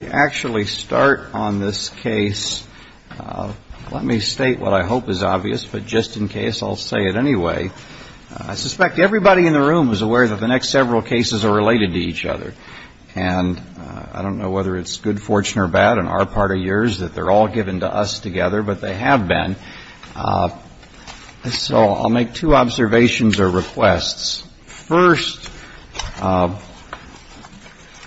Let me actually start on this case. Let me state what I hope is obvious, but just in case, I'll say it anyway. I suspect everybody in the room is aware that the next several cases are related to each other. And I don't know whether it's good fortune or bad in our part of yours that they're all given to us together, but they have been. So I'll make two observations or requests. First,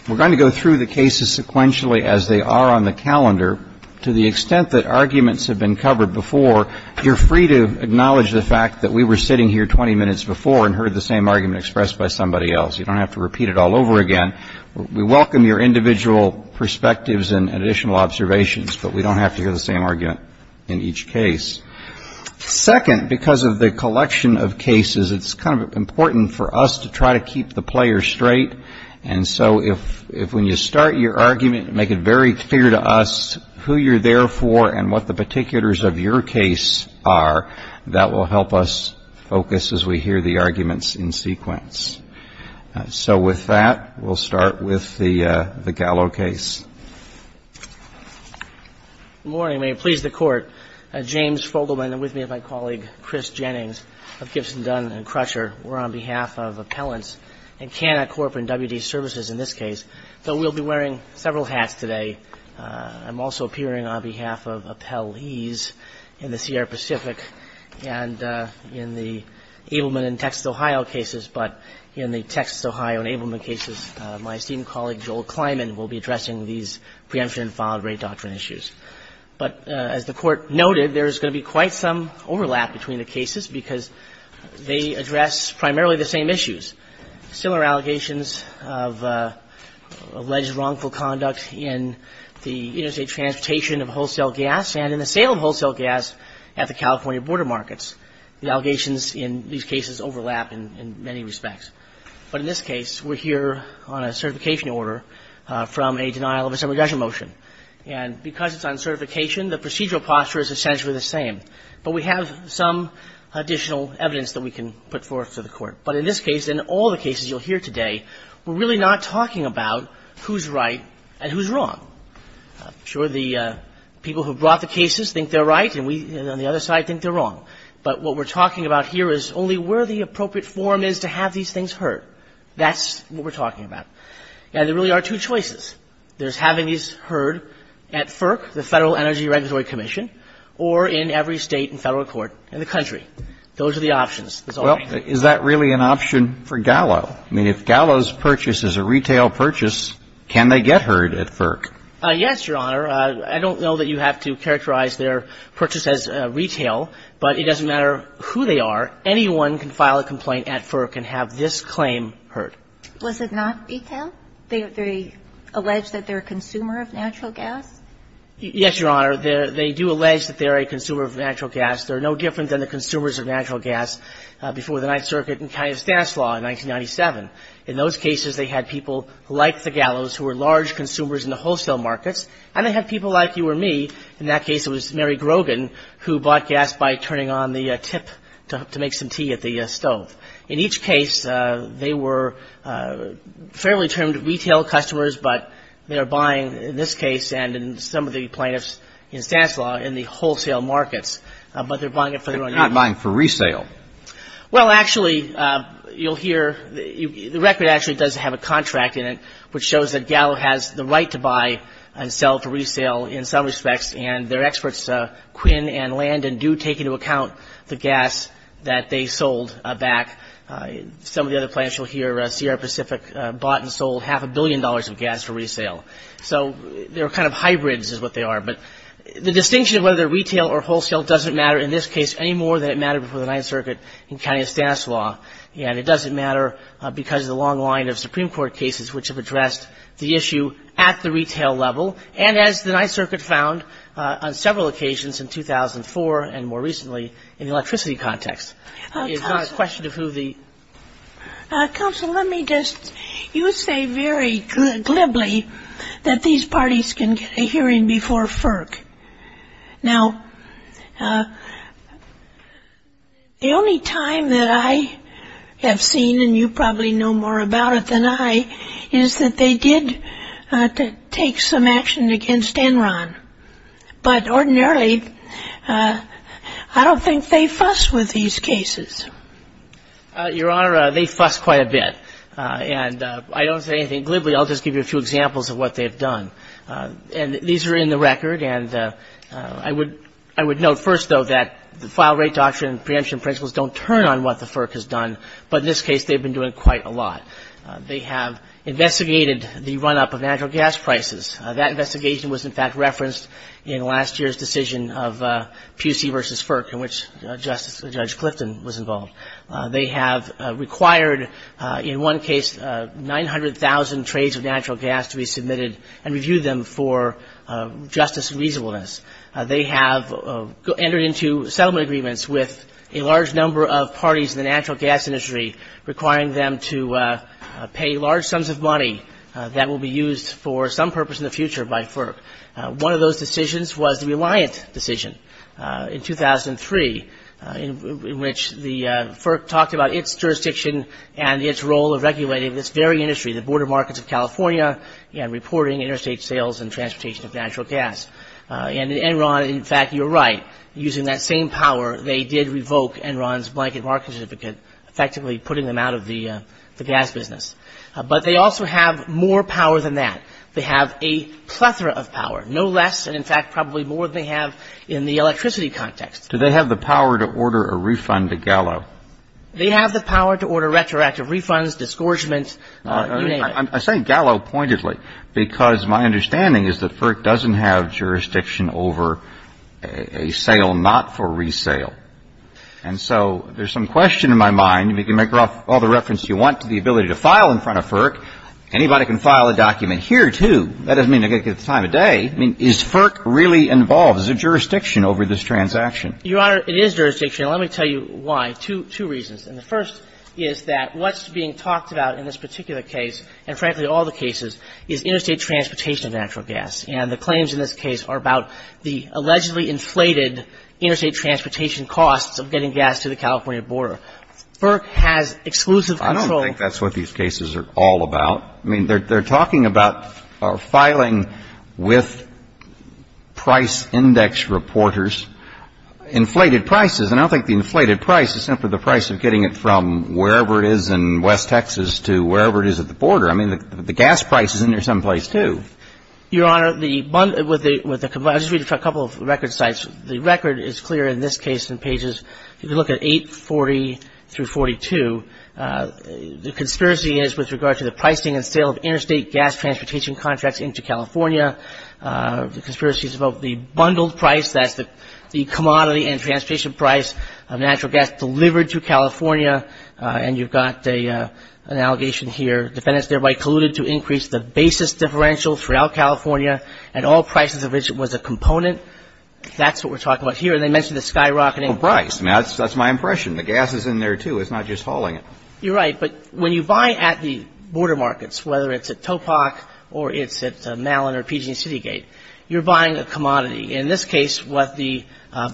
we're going to go through the cases sequentially as they are on the calendar. To the extent that arguments have been covered before, you're free to acknowledge the fact that we were sitting here 20 minutes before and heard the same argument expressed by somebody else. You don't have to repeat it all over again. We welcome your individual perspectives and additional observations, but we don't have to hear the same argument in each case. Second, because of the collection of cases, it's kind of important for us to try to keep the player straight. And so if when you start your argument, make it very clear to us who you're there for and what the particulars of your case are, that will help us focus as we hear the arguments in sequence. So with that, we'll start with the Egallo case. Good morning. May it please the Court. James Fogelman and with me is my colleague, Chris Jennings of Gibson, Dunn & Crusher. We're on behalf of appellants and Canada Corp. and WD Services in this case. So we'll be wearing several hats today. I'm also appearing on behalf of appellees in the Sierra Pacific and in the Ableman and Texas, Ohio cases. But in the Texas, Ohio and Ableman cases, my esteemed colleague, Joel Kleinman, will be addressing these preemption and filed-rate doctrine issues. But as the Court noted, there's going to be quite some overlap between the cases because they address primarily the same issues. Similar allegations of alleged wrongful conduct in the interstate transportation of wholesale gas and in the sale of wholesale gas at the California border markets. The allegations in these cases overlap in many respects. But in this case, we're here on a certification order from a denial of a summary judgment motion. And because it's on certification, the procedural posture is essentially the same. But we have some additional evidence that we can put forth to the Court. But in this case, in all the cases you'll hear today, we're really not talking about who's right and who's wrong. I'm sure the people who brought the cases think they're right and we on the other side think they're wrong. But what we're talking about here is only where the appropriate forum is to have these things heard. That's what we're talking about. And there really are two choices. There's having these heard at FERC, the Federal Energy Regulatory Commission, or in every State and Federal court in the country. Those are the options. That's all I'm saying. Well, is that really an option for Gallo? I mean, if Gallo's purchase is a retail purchase, can they get heard at FERC? Yes, Your Honor. I don't know that you have to characterize their purchase as retail, but it doesn't matter who they are. Anyone can file a complaint at FERC and have this claim heard. Was it not retail? They allege that they're a consumer of natural gas? Yes, Your Honor. They do allege that they're a consumer of natural gas. They're no different than the consumers of natural gas before the Ninth Circuit and County of Stanislaus in 1997. In those cases, they had people like the Gallos who were large consumers in the wholesale markets, and they had people like you or me. In that case, it was Mary Grogan who bought gas by turning on the tip to make some tea at the stove. In each case, they were fairly termed retail customers, but they are buying, in this case and in some of the plaintiffs in Stanislaus, in the wholesale markets, but they're buying it for their own money. They're not buying for resale. Well, actually, you'll hear the record actually does have a contract in it which shows that Gallo has the right to buy and sell for resale in some respects, and their experts Quinn and Landon do take into account the gas that they sold back. Some of the other plaintiffs, you'll hear Sierra Pacific bought and sold half a billion dollars of gas for resale. So they're kind of hybrids is what they are. But the distinction of whether they're retail or wholesale doesn't matter in this case any more than it mattered before the Ninth Circuit in County of Stanislaus, and it doesn't matter because of the long line of Supreme Court cases which have addressed the issue at the retail level, and as the Ninth Circuit found on several occasions in 2004 and more recently in the electricity context. It's not a question of who the... Counsel, let me just... You say very glibly that these parties can get a hearing before FERC. Now, the only time that I have seen, and you probably know more about it than I, is that they did take some action against Enron. But ordinarily, I don't think they fuss with these cases. Your Honor, they fuss quite a bit, and I don't say anything glibly. I'll just give you a few examples of what they've done. And these are in the record, and I would note first, though, that the file rate doctrine and preemption principles don't turn on what the FERC has done, but in this case they've been doing quite a lot. They have investigated the run-up of natural gas prices. That investigation was, in fact, referenced in last year's decision of PUC v. FERC, in which Judge Clifton was involved. They have required, in one case, 900,000 trades of natural gas to be submitted and reviewed them for justice and reasonableness. They have entered into settlement agreements with a large number of parties in the natural gas industry, requiring them to pay large sums of money that will be used for some purpose in the future by FERC. One of those decisions was the Reliant decision in 2003, in which the FERC talked about its jurisdiction and its role of regulating this very industry, the border markets of California, and reporting interstate sales and transportation of natural gas. And in Enron, in fact, you're right. Using that same power, they did revoke Enron's blanket market certificate, effectively putting them out of the gas business. But they also have more power than that. They have a plethora of power, no less and, in fact, probably more than they have in the electricity context. Do they have the power to order a refund to Gallo? They have the power to order retroactive refunds, disgorgements. I say Gallo pointedly because my understanding is that FERC doesn't have jurisdiction over a sale not for resale. And so there's some question in my mind. You can make all the reference you want to the ability to file in front of FERC. Anybody can file a document here, too. I mean, is FERC really involved? Is there jurisdiction over this transaction? Your Honor, it is jurisdiction. And let me tell you why. Two reasons. And the first is that what's being talked about in this particular case, and frankly all the cases, is interstate transportation of natural gas. And the claims in this case are about the allegedly inflated interstate transportation costs of getting gas to the California border. FERC has exclusive control. I don't think that's what these cases are all about. I mean, they're talking about filing with price index reporters inflated prices. And I don't think the inflated price is simply the price of getting it from wherever it is in West Texas to wherever it is at the border. I mean, the gas price is in there someplace, too. Your Honor, the one with the – I'll just read a couple of record sites. The record is clear in this case in pages – if you look at 840 through 42, the conspiracy is with regard to the pricing and sale of interstate gas transportation contracts into California. The conspiracy is about the bundled price. That's the commodity and transportation price of natural gas delivered to California. And you've got an allegation here, defendants thereby colluded to increase the basis differential throughout California at all prices of which it was a component. That's what we're talking about here. And they mention the skyrocketing price. That's my impression. The gas is in there, too. It's not just hauling it. You're right. But when you buy at the border markets, whether it's at TOPOC or it's at Mallin or PG&E Citygate, you're buying a commodity. In this case, what the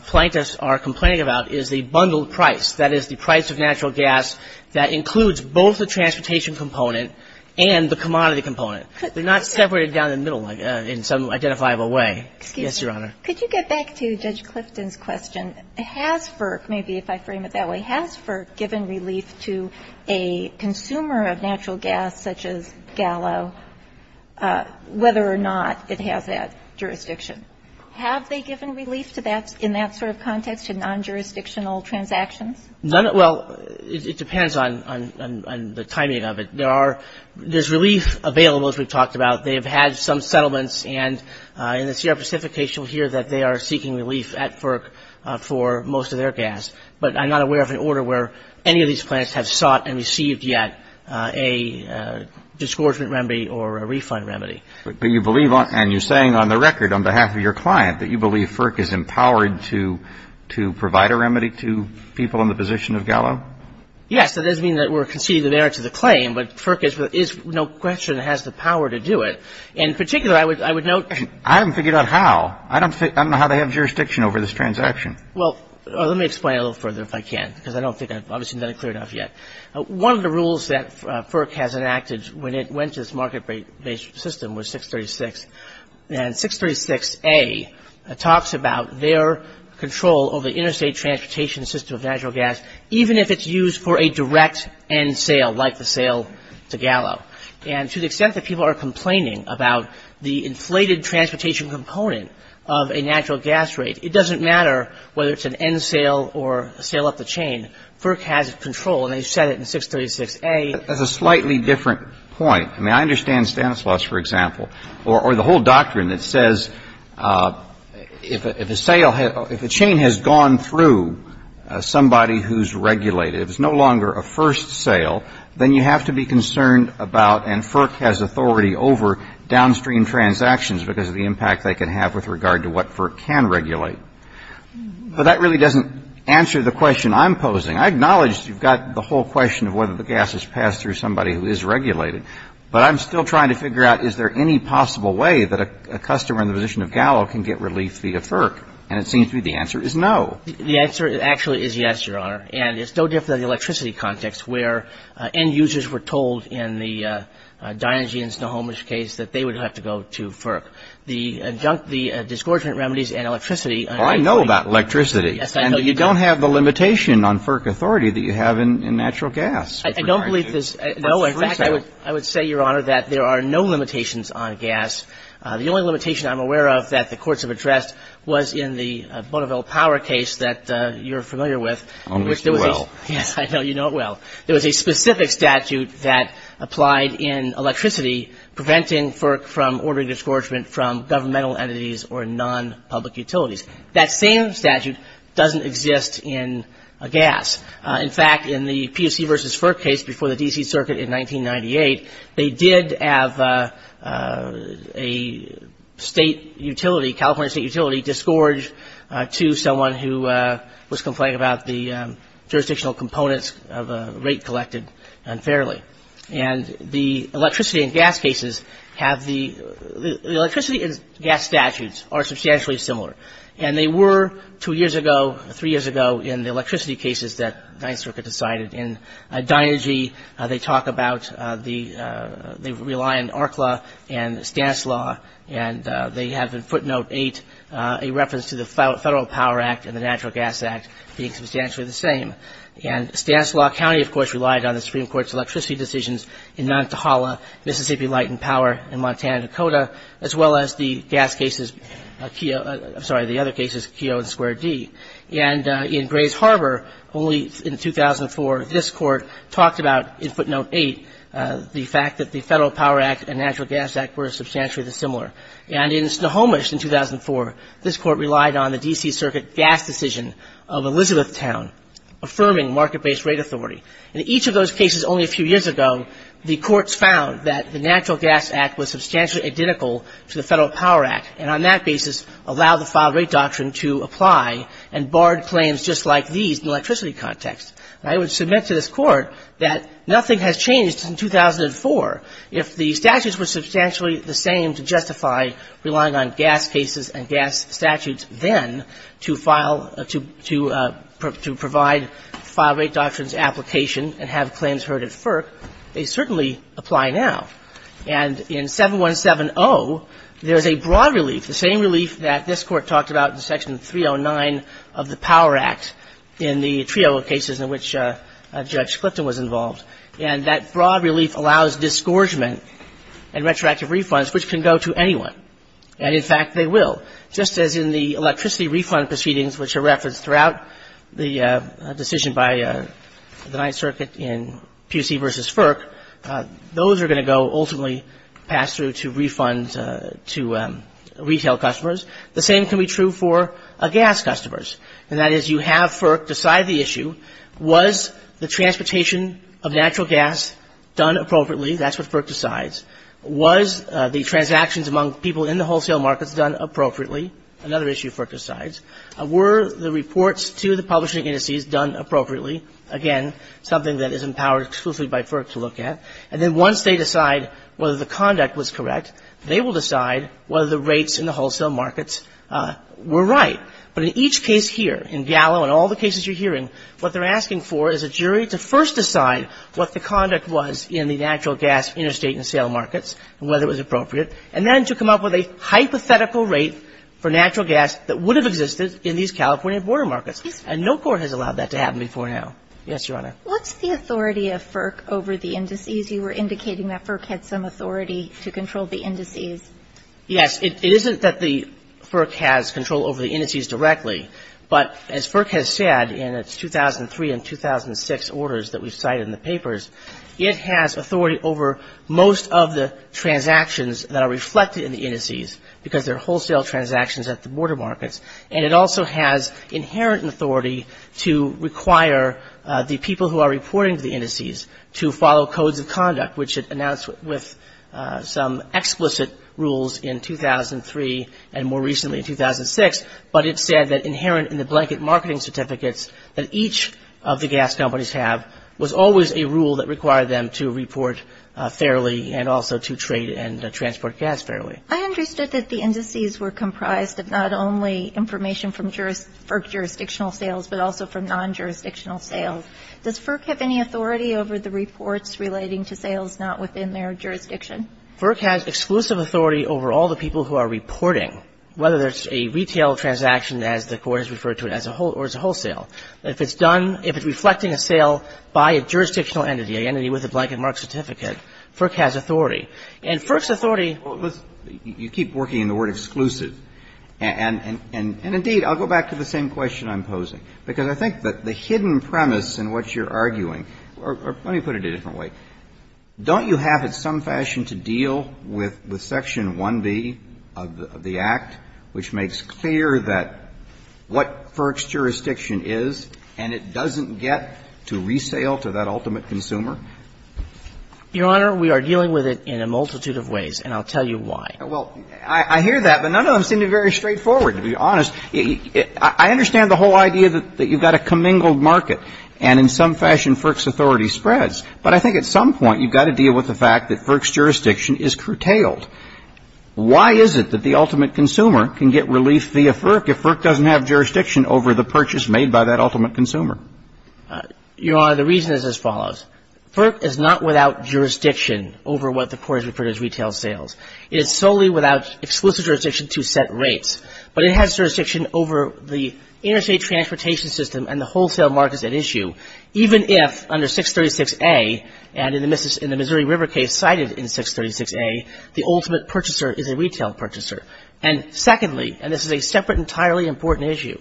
plaintiffs are complaining about is the bundled price, that is, the price of natural gas that includes both the transportation component and the commodity component. They're not separated down the middle in some identifiable way. Yes, Your Honor. Could you get back to Judge Clifton's question? Has FERC, maybe if I frame it that way, has FERC given relief to a consumer of natural gas such as Gallo, whether or not it has that jurisdiction? Have they given relief to that, in that sort of context, to non-jurisdictional transactions? Well, it depends on the timing of it. There are – there's relief available, as we've talked about. They have had some settlements, and in the Sierra Pacific case, you'll hear that they are seeking relief at FERC for most of their gas. But I'm not aware of an order where any of these plants have sought and received yet a disgorgement remedy or a refund remedy. But you believe on – and you're saying on the record, on behalf of your client, that you believe FERC is empowered to provide a remedy to people in the position of Gallo? Yes. That does mean that we're conceding the merits of the claim, but FERC is no question has the power to do it. In particular, I would note – I haven't figured out how. I don't know how they have jurisdiction over this transaction. Well, let me explain it a little further if I can, because I don't think I've obviously done it clear enough yet. One of the rules that FERC has enacted when it went to this market-based system was 636. And 636A talks about their control over the interstate transportation system of natural gas, even if it's used for a direct end sale, like the sale to Gallo. And to the extent that people are complaining about the inflated transportation component of a natural gas rate, it doesn't matter whether it's an end sale or a sale up the chain. FERC has control, and they've said it in 636A. That's a slightly different point. I mean, I understand Stanislaus, for example, or the whole doctrine that says if a sale – if a chain has gone through somebody who's regulated, it's no longer a first sale, then you have to be concerned about – and FERC has authority over – downstream transactions because of the impact they can have with regard to what FERC can regulate. But that really doesn't answer the question I'm posing. I acknowledge you've got the whole question of whether the gas has passed through somebody who is regulated, but I'm still trying to figure out is there any possible way that a customer in the position of Gallo can get relief via FERC. And it seems to me the answer is no. The answer actually is yes, Your Honor. And it's no different in the electricity context, where end users were told in the Dynegy and Snohomish case that they would have to go to FERC. The disgorgement remedies and electricity – Well, I know about electricity. Yes, I know you do. And you don't have the limitation on FERC authority that you have in natural gas. I don't believe this. No, in fact, I would say, Your Honor, that there are no limitations on gas. The only limitation I'm aware of that the courts have addressed was in the Bonneville Power case that you're familiar with. Oh, Mr. Well. Yes, I know you know it well. There was a specific statute that applied in electricity preventing FERC from ordering disgorgement from governmental entities or non-public utilities. That same statute doesn't exist in gas. In fact, in the POC versus FERC case before the D.C. Circuit in 1998, they did have a state utility, California State Utility, to someone who was complaining about the jurisdictional components of a rate collected unfairly. And the electricity and gas cases have the – the electricity and gas statutes are substantially similar. And they were two years ago, three years ago, in the electricity cases that the 9th Circuit decided. In Dinergy, they talk about the – they rely on ARCLA and Stanislaw, and they have in footnote 8 a reference to the Federal Power Act and the Natural Gas Act being substantially the same. And Stanislaw County, of course, relied on the Supreme Court's electricity decisions in Nantahala, Mississippi Light and Power in Montana, Dakota, as well as the gas cases – I'm sorry, the other cases, Keogh and Square D. And in Grays Harbor, only in 2004, this Court talked about, in footnote 8, the fact that the Federal Power Act and Natural Gas Act were substantially similar. And in Snohomish in 2004, this Court relied on the D.C. Circuit gas decision of Elizabethtown, affirming market-based rate authority. In each of those cases, only a few years ago, the courts found that the Natural Gas Act was substantially identical to the Federal Power Act and on that basis allowed the filed rate doctrine to apply and barred claims just like these in the electricity context. And I would submit to this Court that nothing has changed since 2004. If the statutes were substantially the same to justify relying on gas cases and gas statutes then to file – to provide filed rate doctrines application and have claims heard at FERC, they certainly apply now. And in 7170, there's a broad relief, the same relief that this Court talked about in Section 309 of the Power Act in the trio of cases in which Judge Clifton was involved. And that broad relief allows disgorgement and retroactive refunds, which can go to anyone. And in fact, they will. Just as in the electricity refund proceedings, which are referenced throughout the decision by the Ninth Circuit in Pusey v. FERC, those are going to go ultimately pass through to refunds to retail customers, the same can be true for gas customers. And that is you have FERC decide the issue, was the transportation of natural gas done appropriately? That's what FERC decides. Was the transactions among people in the wholesale markets done appropriately? Another issue FERC decides. Were the reports to the publishing indices done appropriately? Again, something that is empowered exclusively by FERC to look at. And then once they decide whether the conduct was correct, they will decide whether the rates in the wholesale markets were right. But in each case here, in Gallo and all the cases you're hearing, what they're asking for is a jury to first decide what the conduct was in the natural gas interstate and sale markets and whether it was appropriate, and then to come up with a hypothetical rate for natural gas that would have existed in these California border markets. And no court has allowed that to happen before now. Yes, Your Honor. What's the authority of FERC over the indices? You were indicating that FERC had some authority to control the indices. Yes. It isn't that the FERC has control over the indices directly, but as FERC has said in its 2003 and 2006 orders that we cite in the papers, it has authority over most of the transactions that are reflected in the indices because they're wholesale transactions at the border markets. And it also has inherent authority to require the people who are reporting to the indices to follow codes of conduct, which it announced with some explicit rules in 2003 and more recently in 2006. But it said that inherent in the blanket marketing certificates that each of the gas companies have was always a rule that required them to report fairly and also to trade and transport gas fairly. I understood that the indices were comprised of not only information from FERC jurisdictional sales, but also from non-jurisdictional sales. Does FERC have any authority over the reports relating to sales not within their jurisdiction? FERC has exclusive authority over all the people who are reporting, whether it's a retail transaction, as the Court has referred to it, or it's a wholesale. If it's done, if it's reflecting a sale by a jurisdictional entity, an entity with a blanket mark certificate, FERC has authority. And FERC's authority was you keep working in the word exclusive. And indeed, I'll go back to the same question I'm posing, because I think that the hidden premise in what you're arguing, or let me put it a different way. Don't you have in some fashion to deal with Section 1B of the Act, which makes clear that what FERC's jurisdiction is, and it doesn't get to resale to that ultimate consumer? Your Honor, we are dealing with it in a multitude of ways, and I'll tell you why. Well, I hear that, but none of them seem to be very straightforward, to be honest. I understand the whole idea that you've got a commingled market, and in some fashion FERC's authority spreads. But I think at some point you've got to deal with the fact that FERC's jurisdiction is curtailed. Why is it that the ultimate consumer can get relief via FERC if FERC doesn't have jurisdiction over the purchase made by that ultimate consumer? Your Honor, the reason is as follows. FERC is not without jurisdiction over what the court has referred as retail sales. It is solely without exclusive jurisdiction to set rates. But it has jurisdiction over the interstate transportation system and the wholesale markets at issue, even if under 636A, and in the Missouri River case cited in 636A, the ultimate purchaser is a retail purchaser. And secondly, and this is a separate entirely important issue,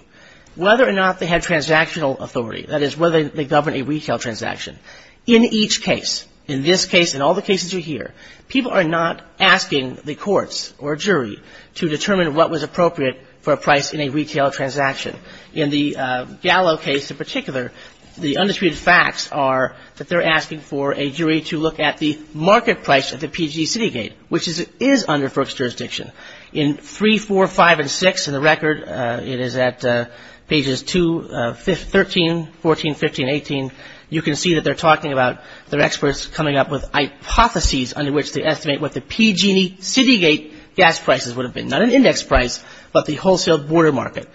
whether or not they have transactional authority, that is, whether they govern a retail transaction. In each case, in this case and all the cases you hear, people are not asking the courts or a jury to determine what was appropriate for a price in a retail transaction. In the Gallo case in particular, the undisputed facts are that they're asking for a jury to look at the market price at the PGC city gate, which is under FERC's jurisdiction. In 3, 4, 5, and 6 in the record, it is at pages 2, 13, 14, 15, and 18, you can see that they're talking about their experts coming up with hypotheses under which to estimate what the PG&E city gate gas prices would have been. Not an index price, but the wholesale border market.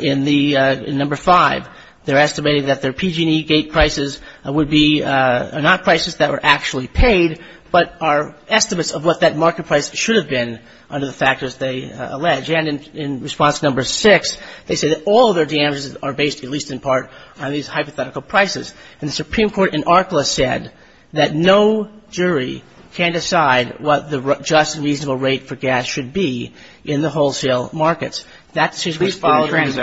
In number 5, they're estimating that their PG&E gate prices would be not prices that were actually paid, but are estimates of what that market price should have been under the factors they allege. And in response to number 6, they say that all of their damages are based, at least in part, on these hypothetical prices. And the Supreme Court in ARCLA said that no jury can decide what the just and reasonable rate for gas should be in the wholesale markets. That decision is followed randomly. And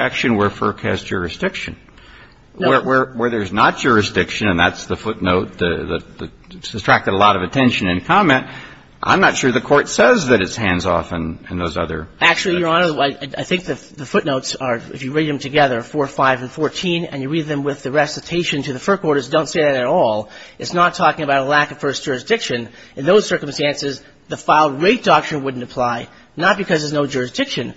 I'm not sure the Court says that it's hands-off in those other sections. Actually, Your Honor, I think the footnotes are, if you read them together, 4, 5, and 14, and you read them with the recitation to the FERC orders, don't say that at all. It's not talking about a lack of first jurisdiction. In those circumstances, the file rate doctrine wouldn't apply, not because there's no jurisdiction,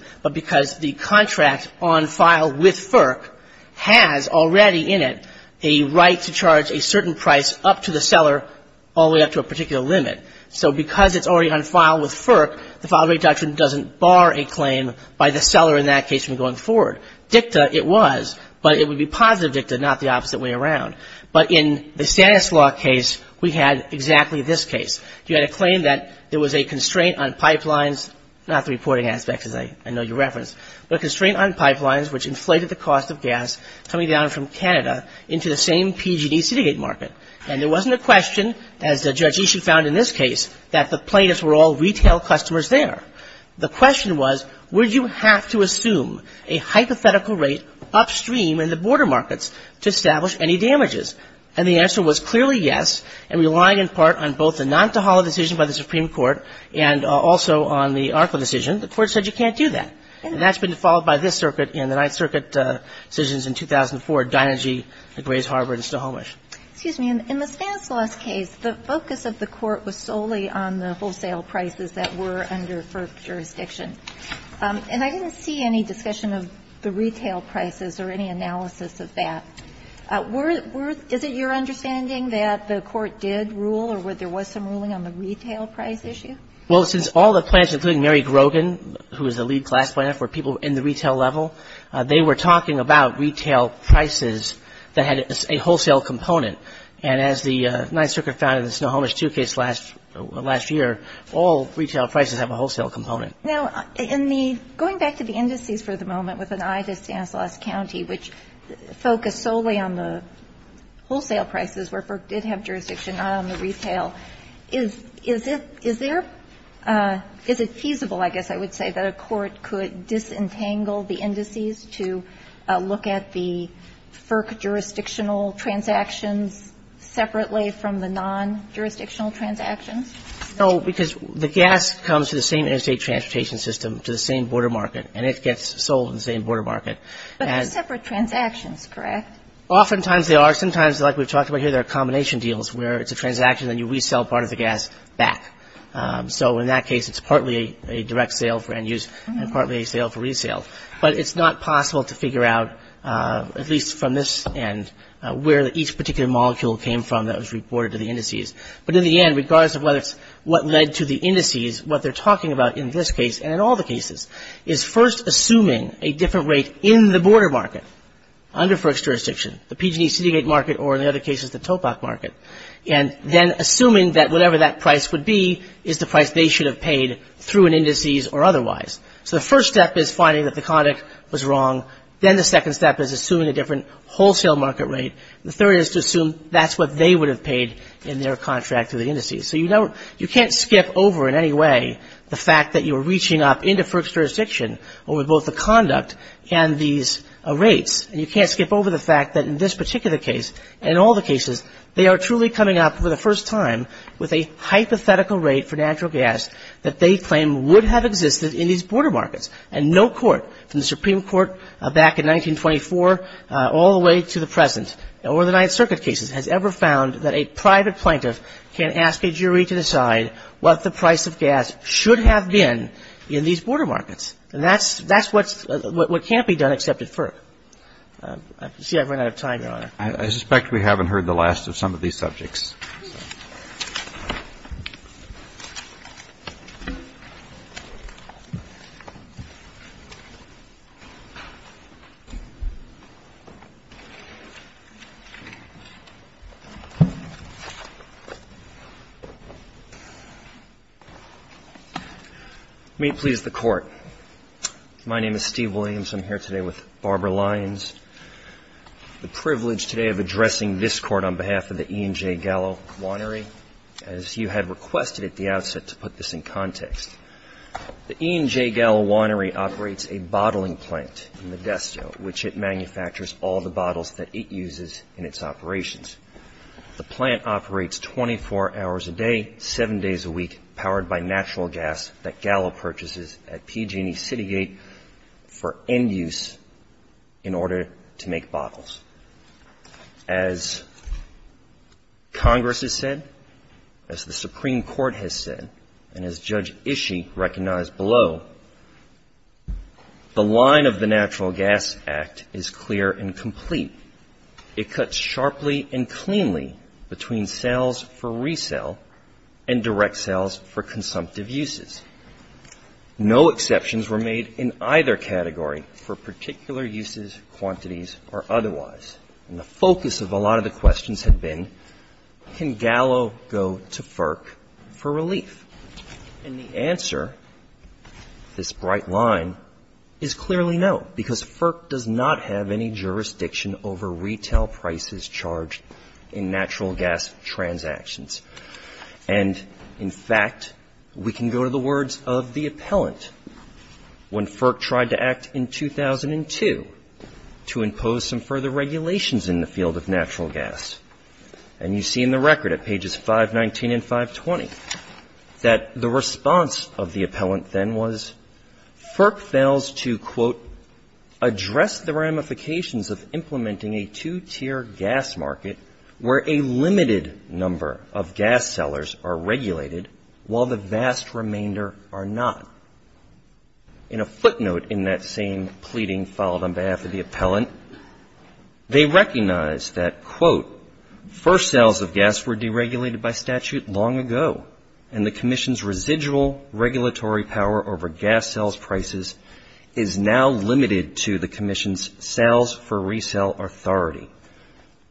has already in it a right to charge a certain price up to the seller all the way up to a particular limit. So because it's already on file with FERC, the file rate doctrine doesn't bar a claim by the seller in that case from going forward. DICTA, it was, but it would be positive DICTA, not the opposite way around. But in the status law case, we had exactly this case. You had a claim that there was a constraint on pipelines, not the reporting aspects, as I know you gas coming down from Canada into the same PG&E city gate market. And there wasn't a question, as Judge Ishii found in this case, that the plaintiffs were all retail customers there. The question was, would you have to assume a hypothetical rate upstream in the border markets to establish any damages? And the answer was clearly yes, and relying in part on both the Nantahala decision by the Supreme Court and also on the Arklow decision, the Court said you can't do that. And that's been followed by this circuit in the Ninth Circuit decisions in 2004, Dynergy, the Grays Harbor, and Snohomish. Excuse me. In the status law case, the focus of the Court was solely on the wholesale prices that were under FERC jurisdiction. And I didn't see any discussion of the retail prices or any analysis of that. Is it your understanding that the Court did rule or there was some ruling on the retail price issue? Well, since all the plaintiffs, including Mary Grogan, who was the lead class plaintiff, were people in the retail level, they were talking about retail prices that had a wholesale component. And as the Ninth Circuit found in the Snohomish II case last year, all retail prices have a wholesale component. Now, in the going back to the indices for the moment with an eye to Stanislaus County, which focused solely on the Is it feasible, I guess I would say, that a court could disentangle the indices to look at the FERC jurisdictional transactions separately from the non-jurisdictional transactions? No, because the gas comes to the same interstate transportation system, to the same border market, and it gets sold in the same border market. But they're separate transactions, correct? Oftentimes they are. Sometimes, like we've talked about here, there are combination deals where it's a transaction and you resell part of the gas back. So in that case, it's partly a direct sale for end use and partly a sale for resale. But it's not possible to figure out, at least from this end, where each particular molecule came from that was reported to the indices. But in the end, regardless of what led to the indices, what they're talking about in this case, and in all the cases, is first assuming a different rate in the border market under FERC's jurisdiction, the PG&E city gate market or, in other cases, the TOPOC market. And then assuming that whatever that price would be is the price they should have paid through an indices or otherwise. So the first step is finding that the conduct was wrong. Then the second step is assuming a different wholesale market rate. The third is to assume that's what they would have paid in their contract through the indices. So you can't skip over in any way the fact that you're reaching up into FERC's jurisdiction over both the conduct and these rates. And you can't skip over the fact that in this particular case and in all the cases, they are truly coming up for the first time with a hypothetical rate for natural gas that they claim would have existed in these border markets. And no court, from the Supreme Court back in 1924 all the way to the present or the Ninth Circuit cases, has ever found that a private plaintiff can ask a jury to decide what the price of gas should have been in these border markets. And that's what can't be done except at FERC. I see I've run out of time, Your Honor. I suspect we haven't heard the last of some of these subjects. May it please the Court. My name is Steve Williams. I'm here today with Barbara Lyons. The privilege today of addressing this Court on behalf of the E&J Gallo Winery, as you had requested at the outset to put this in context. The E&J Gallo Winery operates a bottling plant in Modesto, which it manufactures all the bottles that it uses in its operations. The plant operates 24 hours a day, seven days a week, powered by natural gas that Gallo purchases at PG&E CityGate for end use in order to make bottles. As Congress has said, as the Supreme Court has said, and as Judge Ishii recognized below, the line of the Natural Gas Act is clear and complete. It cuts sharply and cleanly between sales for resale and direct sales for consumptive uses. No exceptions were made in either category for particular uses, quantities, or otherwise. And the focus of a lot of the questions have been, can Gallo go to FERC for relief? And the answer to this bright line is clearly no, because FERC does not have any jurisdiction over retail prices charged in natural gas transactions. And, in fact, we can go to the words of the appellant when FERC tried to act in 2002 to impose some further regulations in the field of natural gas. And you see in the record at pages 519 and 520 that the response of the appellant then was FERC fails to, quote, address the ramifications of implementing a two-tier gas market where a limited number of gas sellers are regulated while the vast remainder are not. In a footnote in that same pleading filed on behalf of the appellant, they recognize that, quote, first sales of gas were deregulated by statute long ago, and the commission's residual regulatory power over gas sales prices is now limited to the commission's sales for resale authority.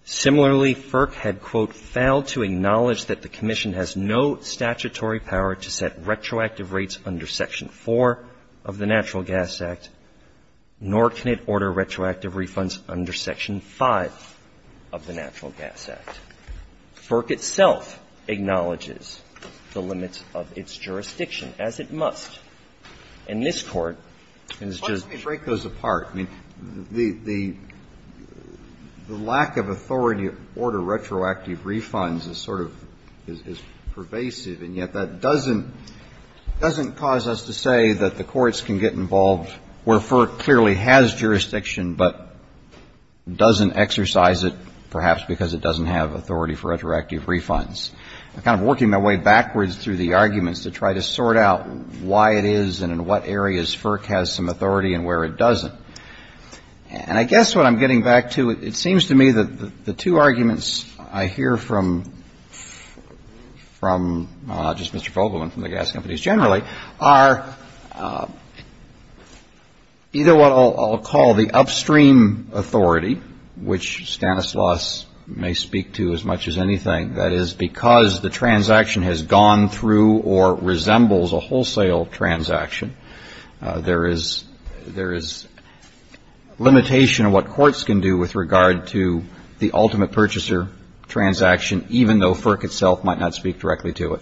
Similarly, FERC had, quote, failed to acknowledge that the commission has no statutory power to set retroactive rates under Section 4 of the Natural Gas Act, nor can it order retroactive refunds under Section 5 of the Natural Gas Act. FERC itself acknowledges the limits of its jurisdiction, as it must. And this Court is just going to break those apart. I mean, the lack of authority to order retroactive refunds is sort of pervasive, and yet that doesn't cause us to say that the courts can get involved where FERC clearly has jurisdiction, but doesn't exercise it, perhaps because it doesn't have authority for retroactive refunds. I'm kind of working my way backwards through the arguments to try to sort out why it is and in what areas FERC has some authority and where it doesn't. And I guess what I'm getting back to, it seems to me that the two arguments I hear from just Mr. Fogleman, from the gas companies generally, are either what I'll call the upstream authority, which Stanislaus may speak to as much as anything, that is, because the transaction has gone through or resembles a wholesale transaction, there is limitation of what courts can do with regard to the ultimate purchaser transaction, even though FERC itself might not speak directly to it,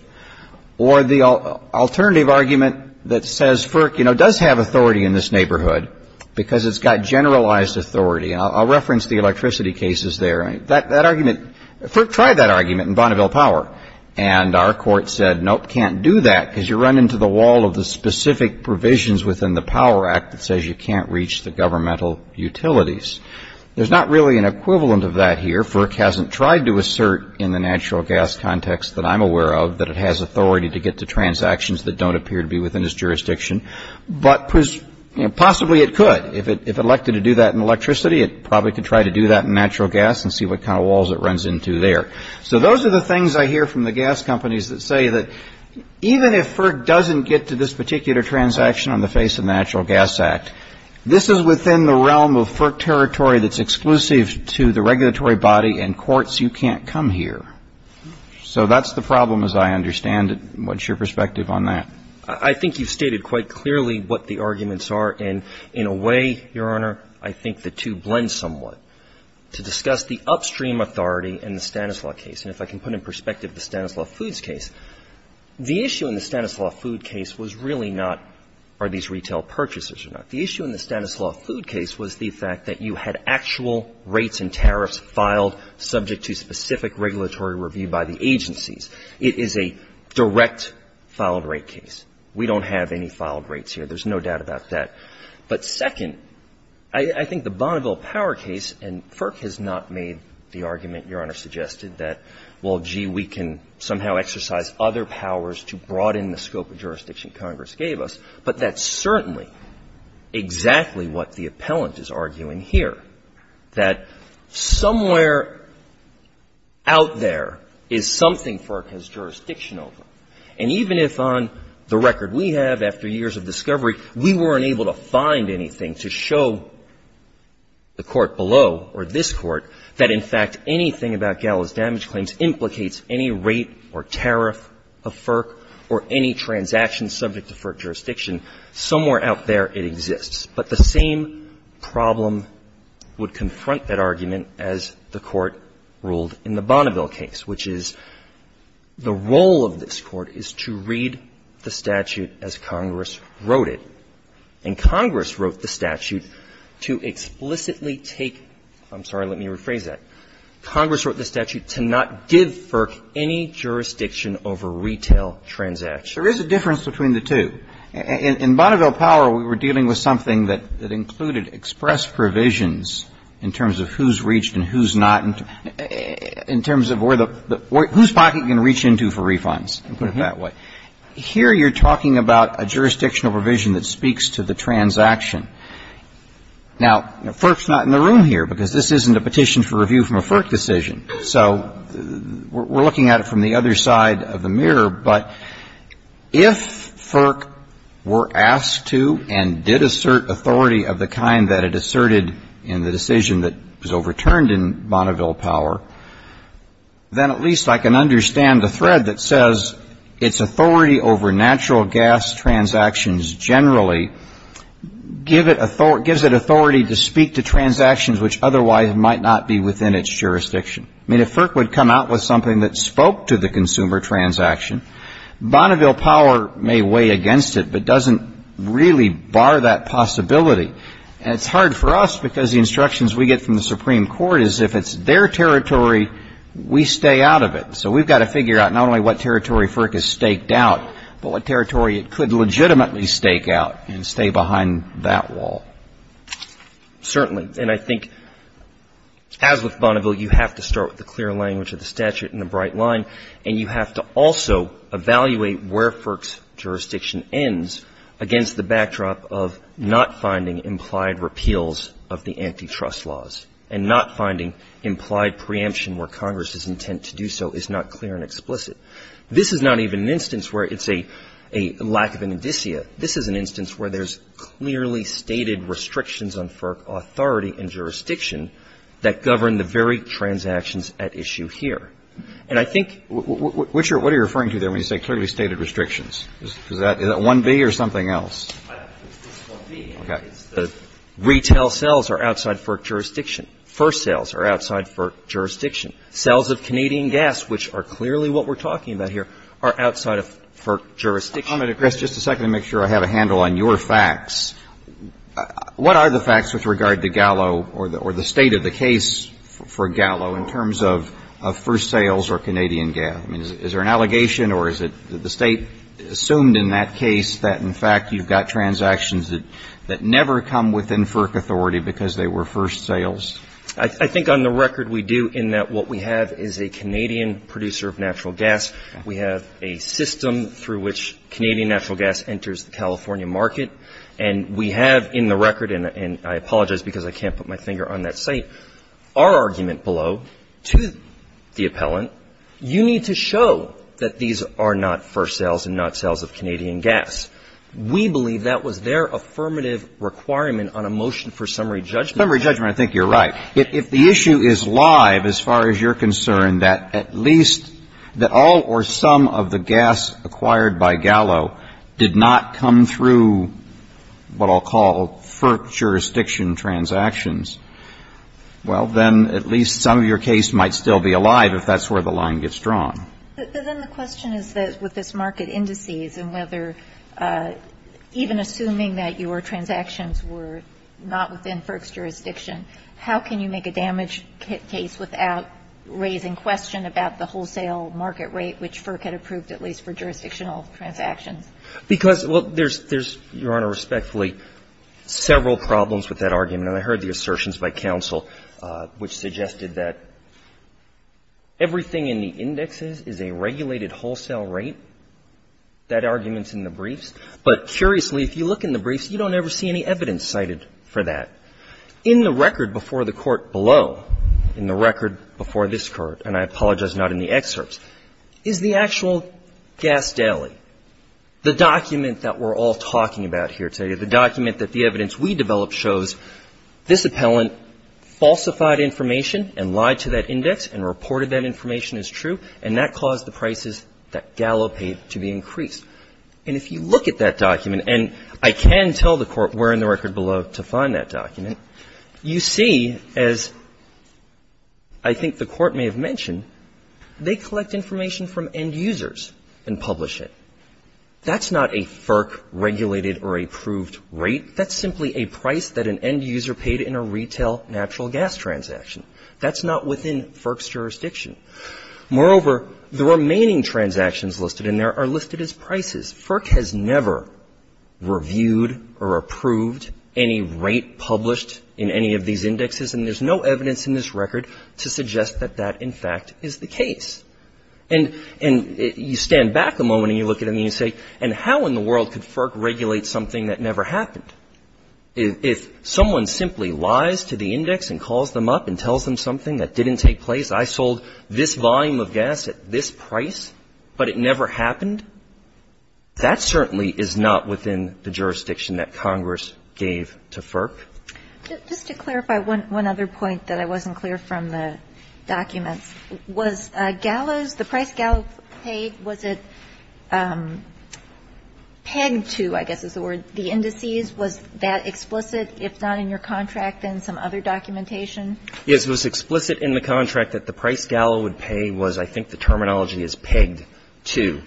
or the alternative argument that says FERC does have authority in this neighborhood because it's got generalized authority. I'll reference the electricity cases there. That argument, FERC tried that argument in Bonneville Power, and our court said, nope, can't do that because you run into the wall of the specific provisions within the Power Act that says you can't reach the governmental utilities. There's not really an equivalent of that here. FERC hasn't tried to assert in the natural gas context that I'm aware of that it has authority to get to transactions that don't appear to be within its jurisdiction, but possibly it could. If it elected to do that in electricity, it probably could try to do that in natural gas and see what kind of walls it runs into there. So those are the things I hear from the gas companies that say that even if FERC doesn't get to this particular transaction on the face of the Natural Gas Act, this is within the realm of FERC territory that's exclusive to the regulatory body, and courts, you can't So that's the problem as I understand it. What's your perspective on that? I think you've stated quite clearly what the arguments are, and in a way, Your Honor, I think the two blend somewhat. To discuss the upstream authority in the Stanislaus case, and if I can put in perspective the Stanislaus Foods case, the issue in the Stanislaus Food case was really not are these retail purchases or not. The issue in the Stanislaus Food case was the fact that you had actual rates and tariffs filed subject to specific regulatory review by the agencies. It is a direct filed rate case. We don't have any filed rates here. There's no doubt about that. But second, I think the Bonneville Power case, and FERC has not made the argument, Your Honor, suggested that, well, gee, we can somehow exercise other powers to broaden the scope of jurisdiction Congress gave us, but that's certainly exactly what the problem here, that somewhere out there is something FERC has jurisdiction over. And even if on the record we have, after years of discovery, we weren't able to find anything to show the Court below or this Court that, in fact, anything about Gallo's damage claims implicates any rate or tariff of FERC or any transaction subject to FERC jurisdiction, somewhere out there it exists. But the same problem would confront that argument as the Court ruled in the Bonneville case, which is the role of this Court is to read the statute as Congress wrote it. And Congress wrote the statute to explicitly take — I'm sorry, let me rephrase that. Congress wrote the statute to not give FERC any jurisdiction over retail transactions. There is a difference between the two. In Bonneville Power we were dealing with something that included express provisions in terms of who's reached and who's not, in terms of where the — whose pocket you can reach into for refunds, put it that way. Here you're talking about a jurisdictional provision that speaks to the transaction. Now, FERC's not in the room here because this isn't a petition for review from a FERC decision. So we're looking at it from the other side of the mirror. But if FERC were asked to and did assert authority of the kind that it asserted in the decision that was overturned in Bonneville Power, then at least I can understand the thread that says its authority over natural gas transactions generally gives it authority to speak to transactions which otherwise might not be within its jurisdiction. I mean, if FERC would come out with something that spoke to the consumer transaction, Bonneville Power may weigh against it, but doesn't really bar that possibility. And it's hard for us because the instructions we get from the Supreme Court is if it's their territory, we stay out of it. So we've got to figure out not only what territory FERC has staked out, but what territory it could legitimately stake out and stay behind that wall. Certainly. And I think as with Bonneville, you have to start with the clear language of the statute and the bright line, and you have to also evaluate where FERC's jurisdiction ends against the backdrop of not finding implied repeals of the antitrust laws and not finding implied preemption where Congress's intent to do so is not clear and explicit. This is not even an instance where it's a lack of an indicia. This is an instance where there's clearly stated restrictions on FERC authority and jurisdiction that govern the very transactions at issue here. And I think — What are you referring to there when you say clearly stated restrictions? Is that 1B or something else? It's 1B. Okay. Retail sales are outside FERC jurisdiction. First sales are outside FERC jurisdiction. Sales of Canadian gas, which are clearly what we're talking about here, are outside of FERC jurisdiction. Just a second to make sure I have a handle on your facts. What are the facts with regard to Gallo or the state of the case for Gallo in terms of first sales or Canadian gas? I mean, is there an allegation or is it the State assumed in that case that, in fact, you've got transactions that never come within FERC authority because they were first sales? I think on the record we do in that what we have is a Canadian producer of natural gas. We have a system through which Canadian natural gas enters the California market. And we have in the record, and I apologize because I can't put my finger on that site, our argument below to the appellant, you need to show that these are not first sales and not sales of Canadian gas. We believe that was their affirmative requirement on a motion for summary judgment. Summary judgment, I think you're right. But if the issue is live as far as you're concerned that at least that all or some of the gas acquired by Gallo did not come through what I'll call FERC jurisdiction transactions, well, then at least some of your case might still be alive if that's where the line gets drawn. But then the question is that with this market indices and whether even assuming that your transactions were not within FERC's jurisdiction, how can you make a damage case without raising question about the wholesale market rate which FERC had approved at least for jurisdictional transactions? Because, well, there's, Your Honor, respectfully, several problems with that argument. And I heard the assertions by counsel which suggested that everything in the indexes is a regulated wholesale rate. That argument's in the briefs. But curiously, if you look in the briefs, you don't ever see any evidence cited for that. In the record before the Court below, in the record before this Court, and I apologize not in the excerpts, is the actual gas daily, the document that we're all talking about here today, the document that the evidence we developed shows this appellant falsified information and lied to that index and reported that information as true, and that caused the prices that Gallo paid to be increased. And if you look at that document, and I can tell the Court where in the record below to find that document, you see, as I think the Court may have mentioned, they collect information from end users and publish it. That's not a FERC-regulated or approved rate. That's simply a price that an end user paid in a retail natural gas transaction. That's not within FERC's jurisdiction. Moreover, the remaining transactions listed in there are listed as prices. FERC has never reviewed or approved any rate published in any of these indexes, and there's no evidence in this record to suggest that that, in fact, is the case. And you stand back a moment and you look at them and you say, and how in the world could FERC regulate something that never happened? If someone simply lies to the index and calls them up and tells them something that didn't take place, I sold this volume of gas at this price, but it never happened, that certainly is not within the jurisdiction that Congress gave to FERC. Just to clarify one other point that I wasn't clear from the documents, was Gallo's price, the price Gallo paid, was it pegged to, I guess is the word, the indices? Was that explicit, if not in your contract, in some other documentation? Yes, it was explicit in the contract that the price Gallo would pay was, I think, the terminology is pegged to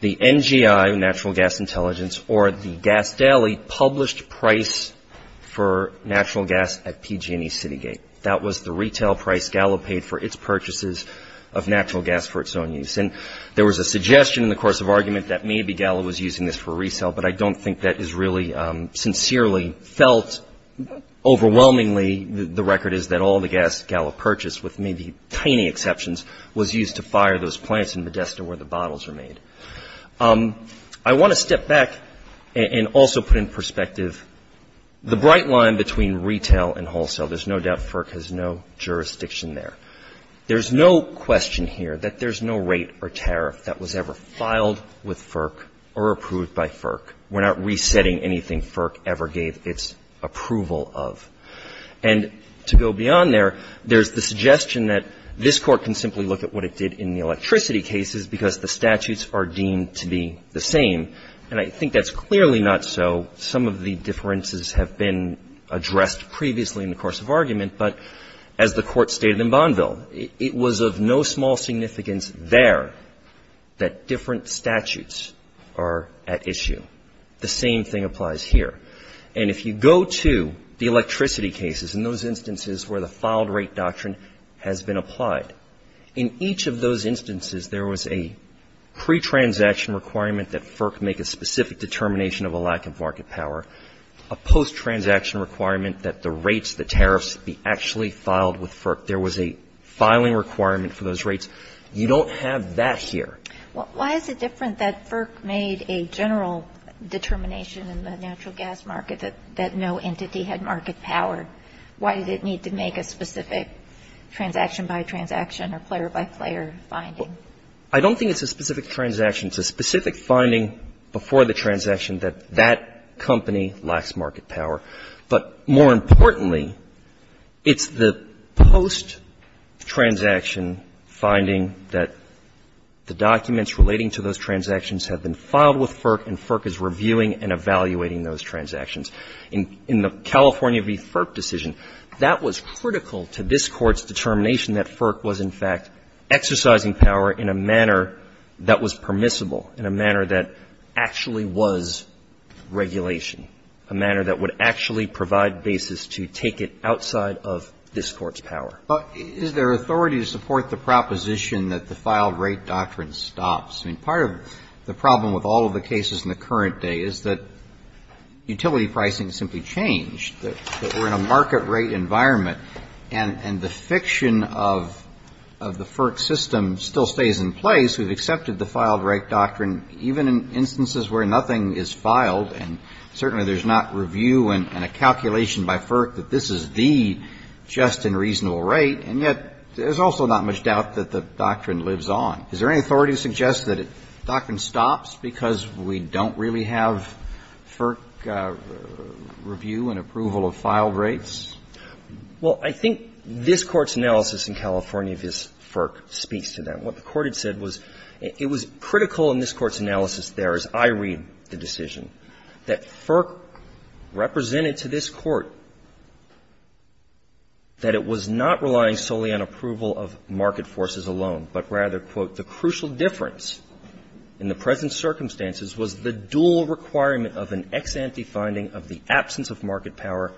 the NGI, Natural Gas Intelligence, or the Gas Daily published price for natural gas at PG&E CityGate. That was the retail price Gallo paid for its purchases of natural gas for its own use. And there was a suggestion in the course of argument that maybe Gallo was using this for resale, but I don't think that is really sincerely felt. Overwhelmingly, the record is that all the gas Gallo purchased, with maybe tiny exceptions, was used to fire those plants in Modesta where the bottles were made. I want to step back and also put in perspective the bright line between retail and wholesale. There's no doubt FERC has no jurisdiction there. There's no question here that there's no rate or tariff that was ever filed with FERC or approved by FERC. We're not resetting anything FERC ever gave its approval of. And to go beyond there, there's the suggestion that this Court can simply look at what it did in the electricity cases because the statutes are deemed to be the same. And I think that's clearly not so. Some of the differences have been addressed previously in the course of argument, but as the Court stated in Bonneville, it was of no small significance there that different statutes are at issue. The same thing applies here. And if you go to the electricity cases, in those instances where the filed rate doctrine has been applied, in each of those instances there was a pre-transaction requirement that FERC make a specific determination of a lack of market power, a post-transaction requirement that the rates, the tariffs, be actually filed with FERC. There was a filing requirement for those rates. You don't have that here. Why is it different that FERC made a general determination in the natural gas market that no entity had market power? Why did it need to make a specific transaction-by-transaction or player-by-player finding? I don't think it's a specific transaction. It's a specific finding before the transaction that that company lacks market power. But more importantly, it's the post-transaction finding that the documents relating to those transactions have been filed with FERC and FERC is reviewing and evaluating those transactions. In the California v. FERC decision, that was critical to this Court's determination that FERC was, in fact, exercising power in a manner that was permissible, in a manner that actually was regulation, a manner that would actually provide basis to take it outside of this Court's power. But is there authority to support the proposition that the filed rate doctrine stops? I mean, part of the problem with all of the cases in the current day is that utility pricing simply changed, that we're in a market rate environment, and the fiction of the FERC system still stays in place. We've accepted the filed rate doctrine even in instances where nothing is filed, and certainly there's not review and a calculation by FERC that this is the just and reasonable rate. And yet there's also not much doubt that the doctrine lives on. Is there any authority to suggest that it stops because we don't really have FERC review and approval of filed rates? Well, I think this Court's analysis in California v. FERC speaks to that. What the Court had said was it was critical in this Court's analysis there, as I read the decision, that FERC represented to this Court that it was not relying solely on approval of market forces alone, but rather, quote, the crucial difference in the present circumstances was the dual requirement of an ex-ante finding of the absence of market power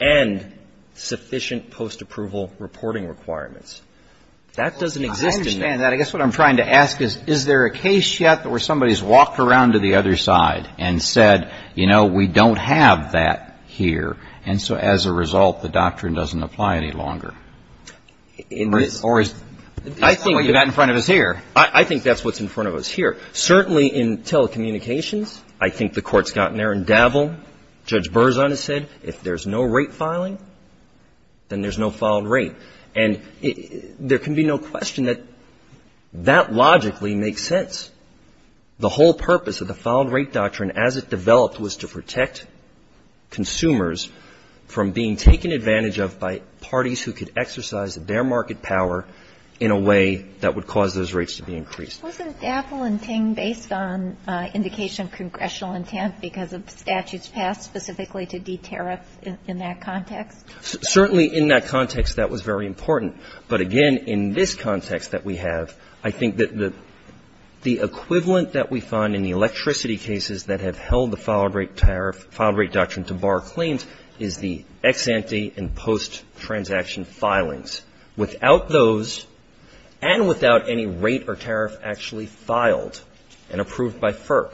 and sufficient post-approval reporting requirements. That doesn't exist in this. Well, I understand that. I guess what I'm trying to ask is, is there a case yet where somebody's walked around to the other side and said, you know, we don't have that here, and so as a result, the doctrine doesn't apply any longer? Or is that what you've got in front of us here? I think that's what's in front of us here. Certainly in telecommunications, I think the Court's gotten there and dabbled. Judge Berzon has said if there's no rate filing, then there's no filed rate. And there can be no question that that logically makes sense. The whole purpose of the filed rate doctrine as it developed was to protect consumers from being taken advantage of by parties who could exercise their market power in a way that would cause those rates to be increased. Wasn't dabbling based on indication of congressional intent because of statutes passed specifically to de-tariff in that context? Certainly in that context, that was very important. But again, in this context that we have, I think that the equivalent that we find in the electricity cases that have held the filed rate doctrine to bar claims is the ex-ante and post-transaction filings. Without those and without any rate or tariff actually filed and approved by FERC,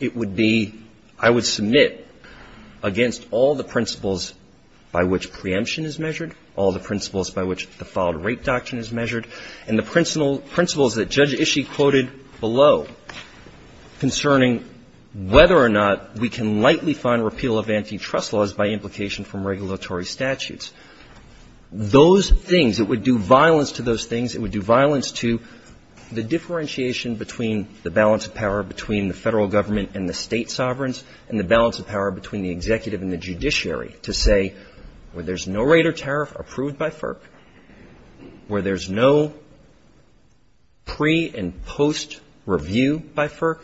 it would be, I would submit, against all the principles by which preemption is measured, all the principles by which the filed rate doctrine is measured, and the principles that Judge Ishii quoted below concerning whether or not we can slightly find repeal of antitrust laws by implication from regulatory statutes. Those things, it would do violence to those things. It would do violence to the differentiation between the balance of power between the Federal Government and the State sovereigns and the balance of power between the executive and the judiciary to say where there's no rate or tariff approved by FERC, where there's no pre- and post-review by FERC,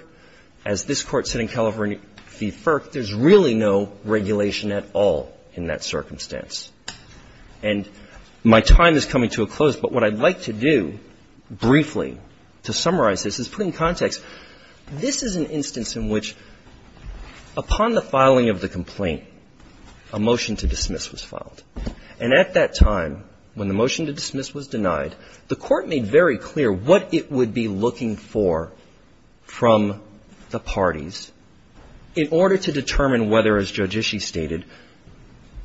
as this Court said in California v. FERC, there's really no regulation at all in that circumstance. And my time is coming to a close, but what I'd like to do briefly to summarize this is put in context. This is an instance in which, upon the filing of the complaint, a motion to dismiss was filed. And at that time, when the motion to dismiss was denied, the Court made very clear what it would be looking for from the parties in order to determine whether, as Judge Ishii stated,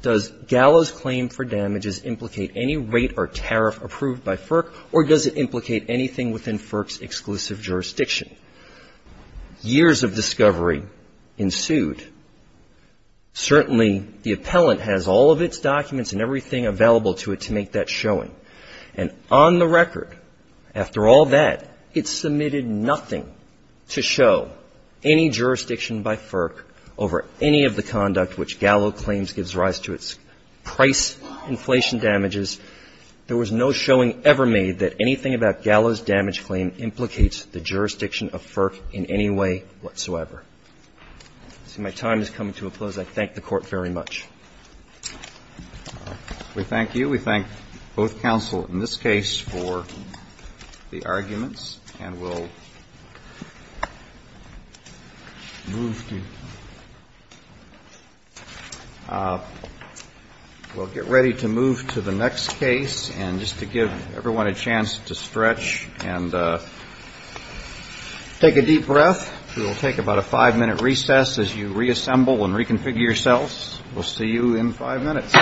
does Gallo's claim for damages implicate any rate or tariff approved by FERC, or does it implicate anything within FERC's exclusive jurisdiction? Years of discovery ensued. Certainly, the appellant has all of its documents and everything available to it to make that showing. And on the record, after all that, it submitted nothing to show any jurisdiction by FERC over any of the conduct which Gallo claims gives rise to its price inflation damages. There was no showing ever made that anything about Gallo's damage claim implicates the jurisdiction of FERC in any way whatsoever. So my time is coming to a close. I thank the Court very much. We thank you. We thank both counsel in this case for the arguments. And we'll move to the next case. And just to give everyone a chance to stretch and take a deep breath, we will take about a five-minute recess as you reassemble and reconfigure yourselves. We'll see you in five minutes.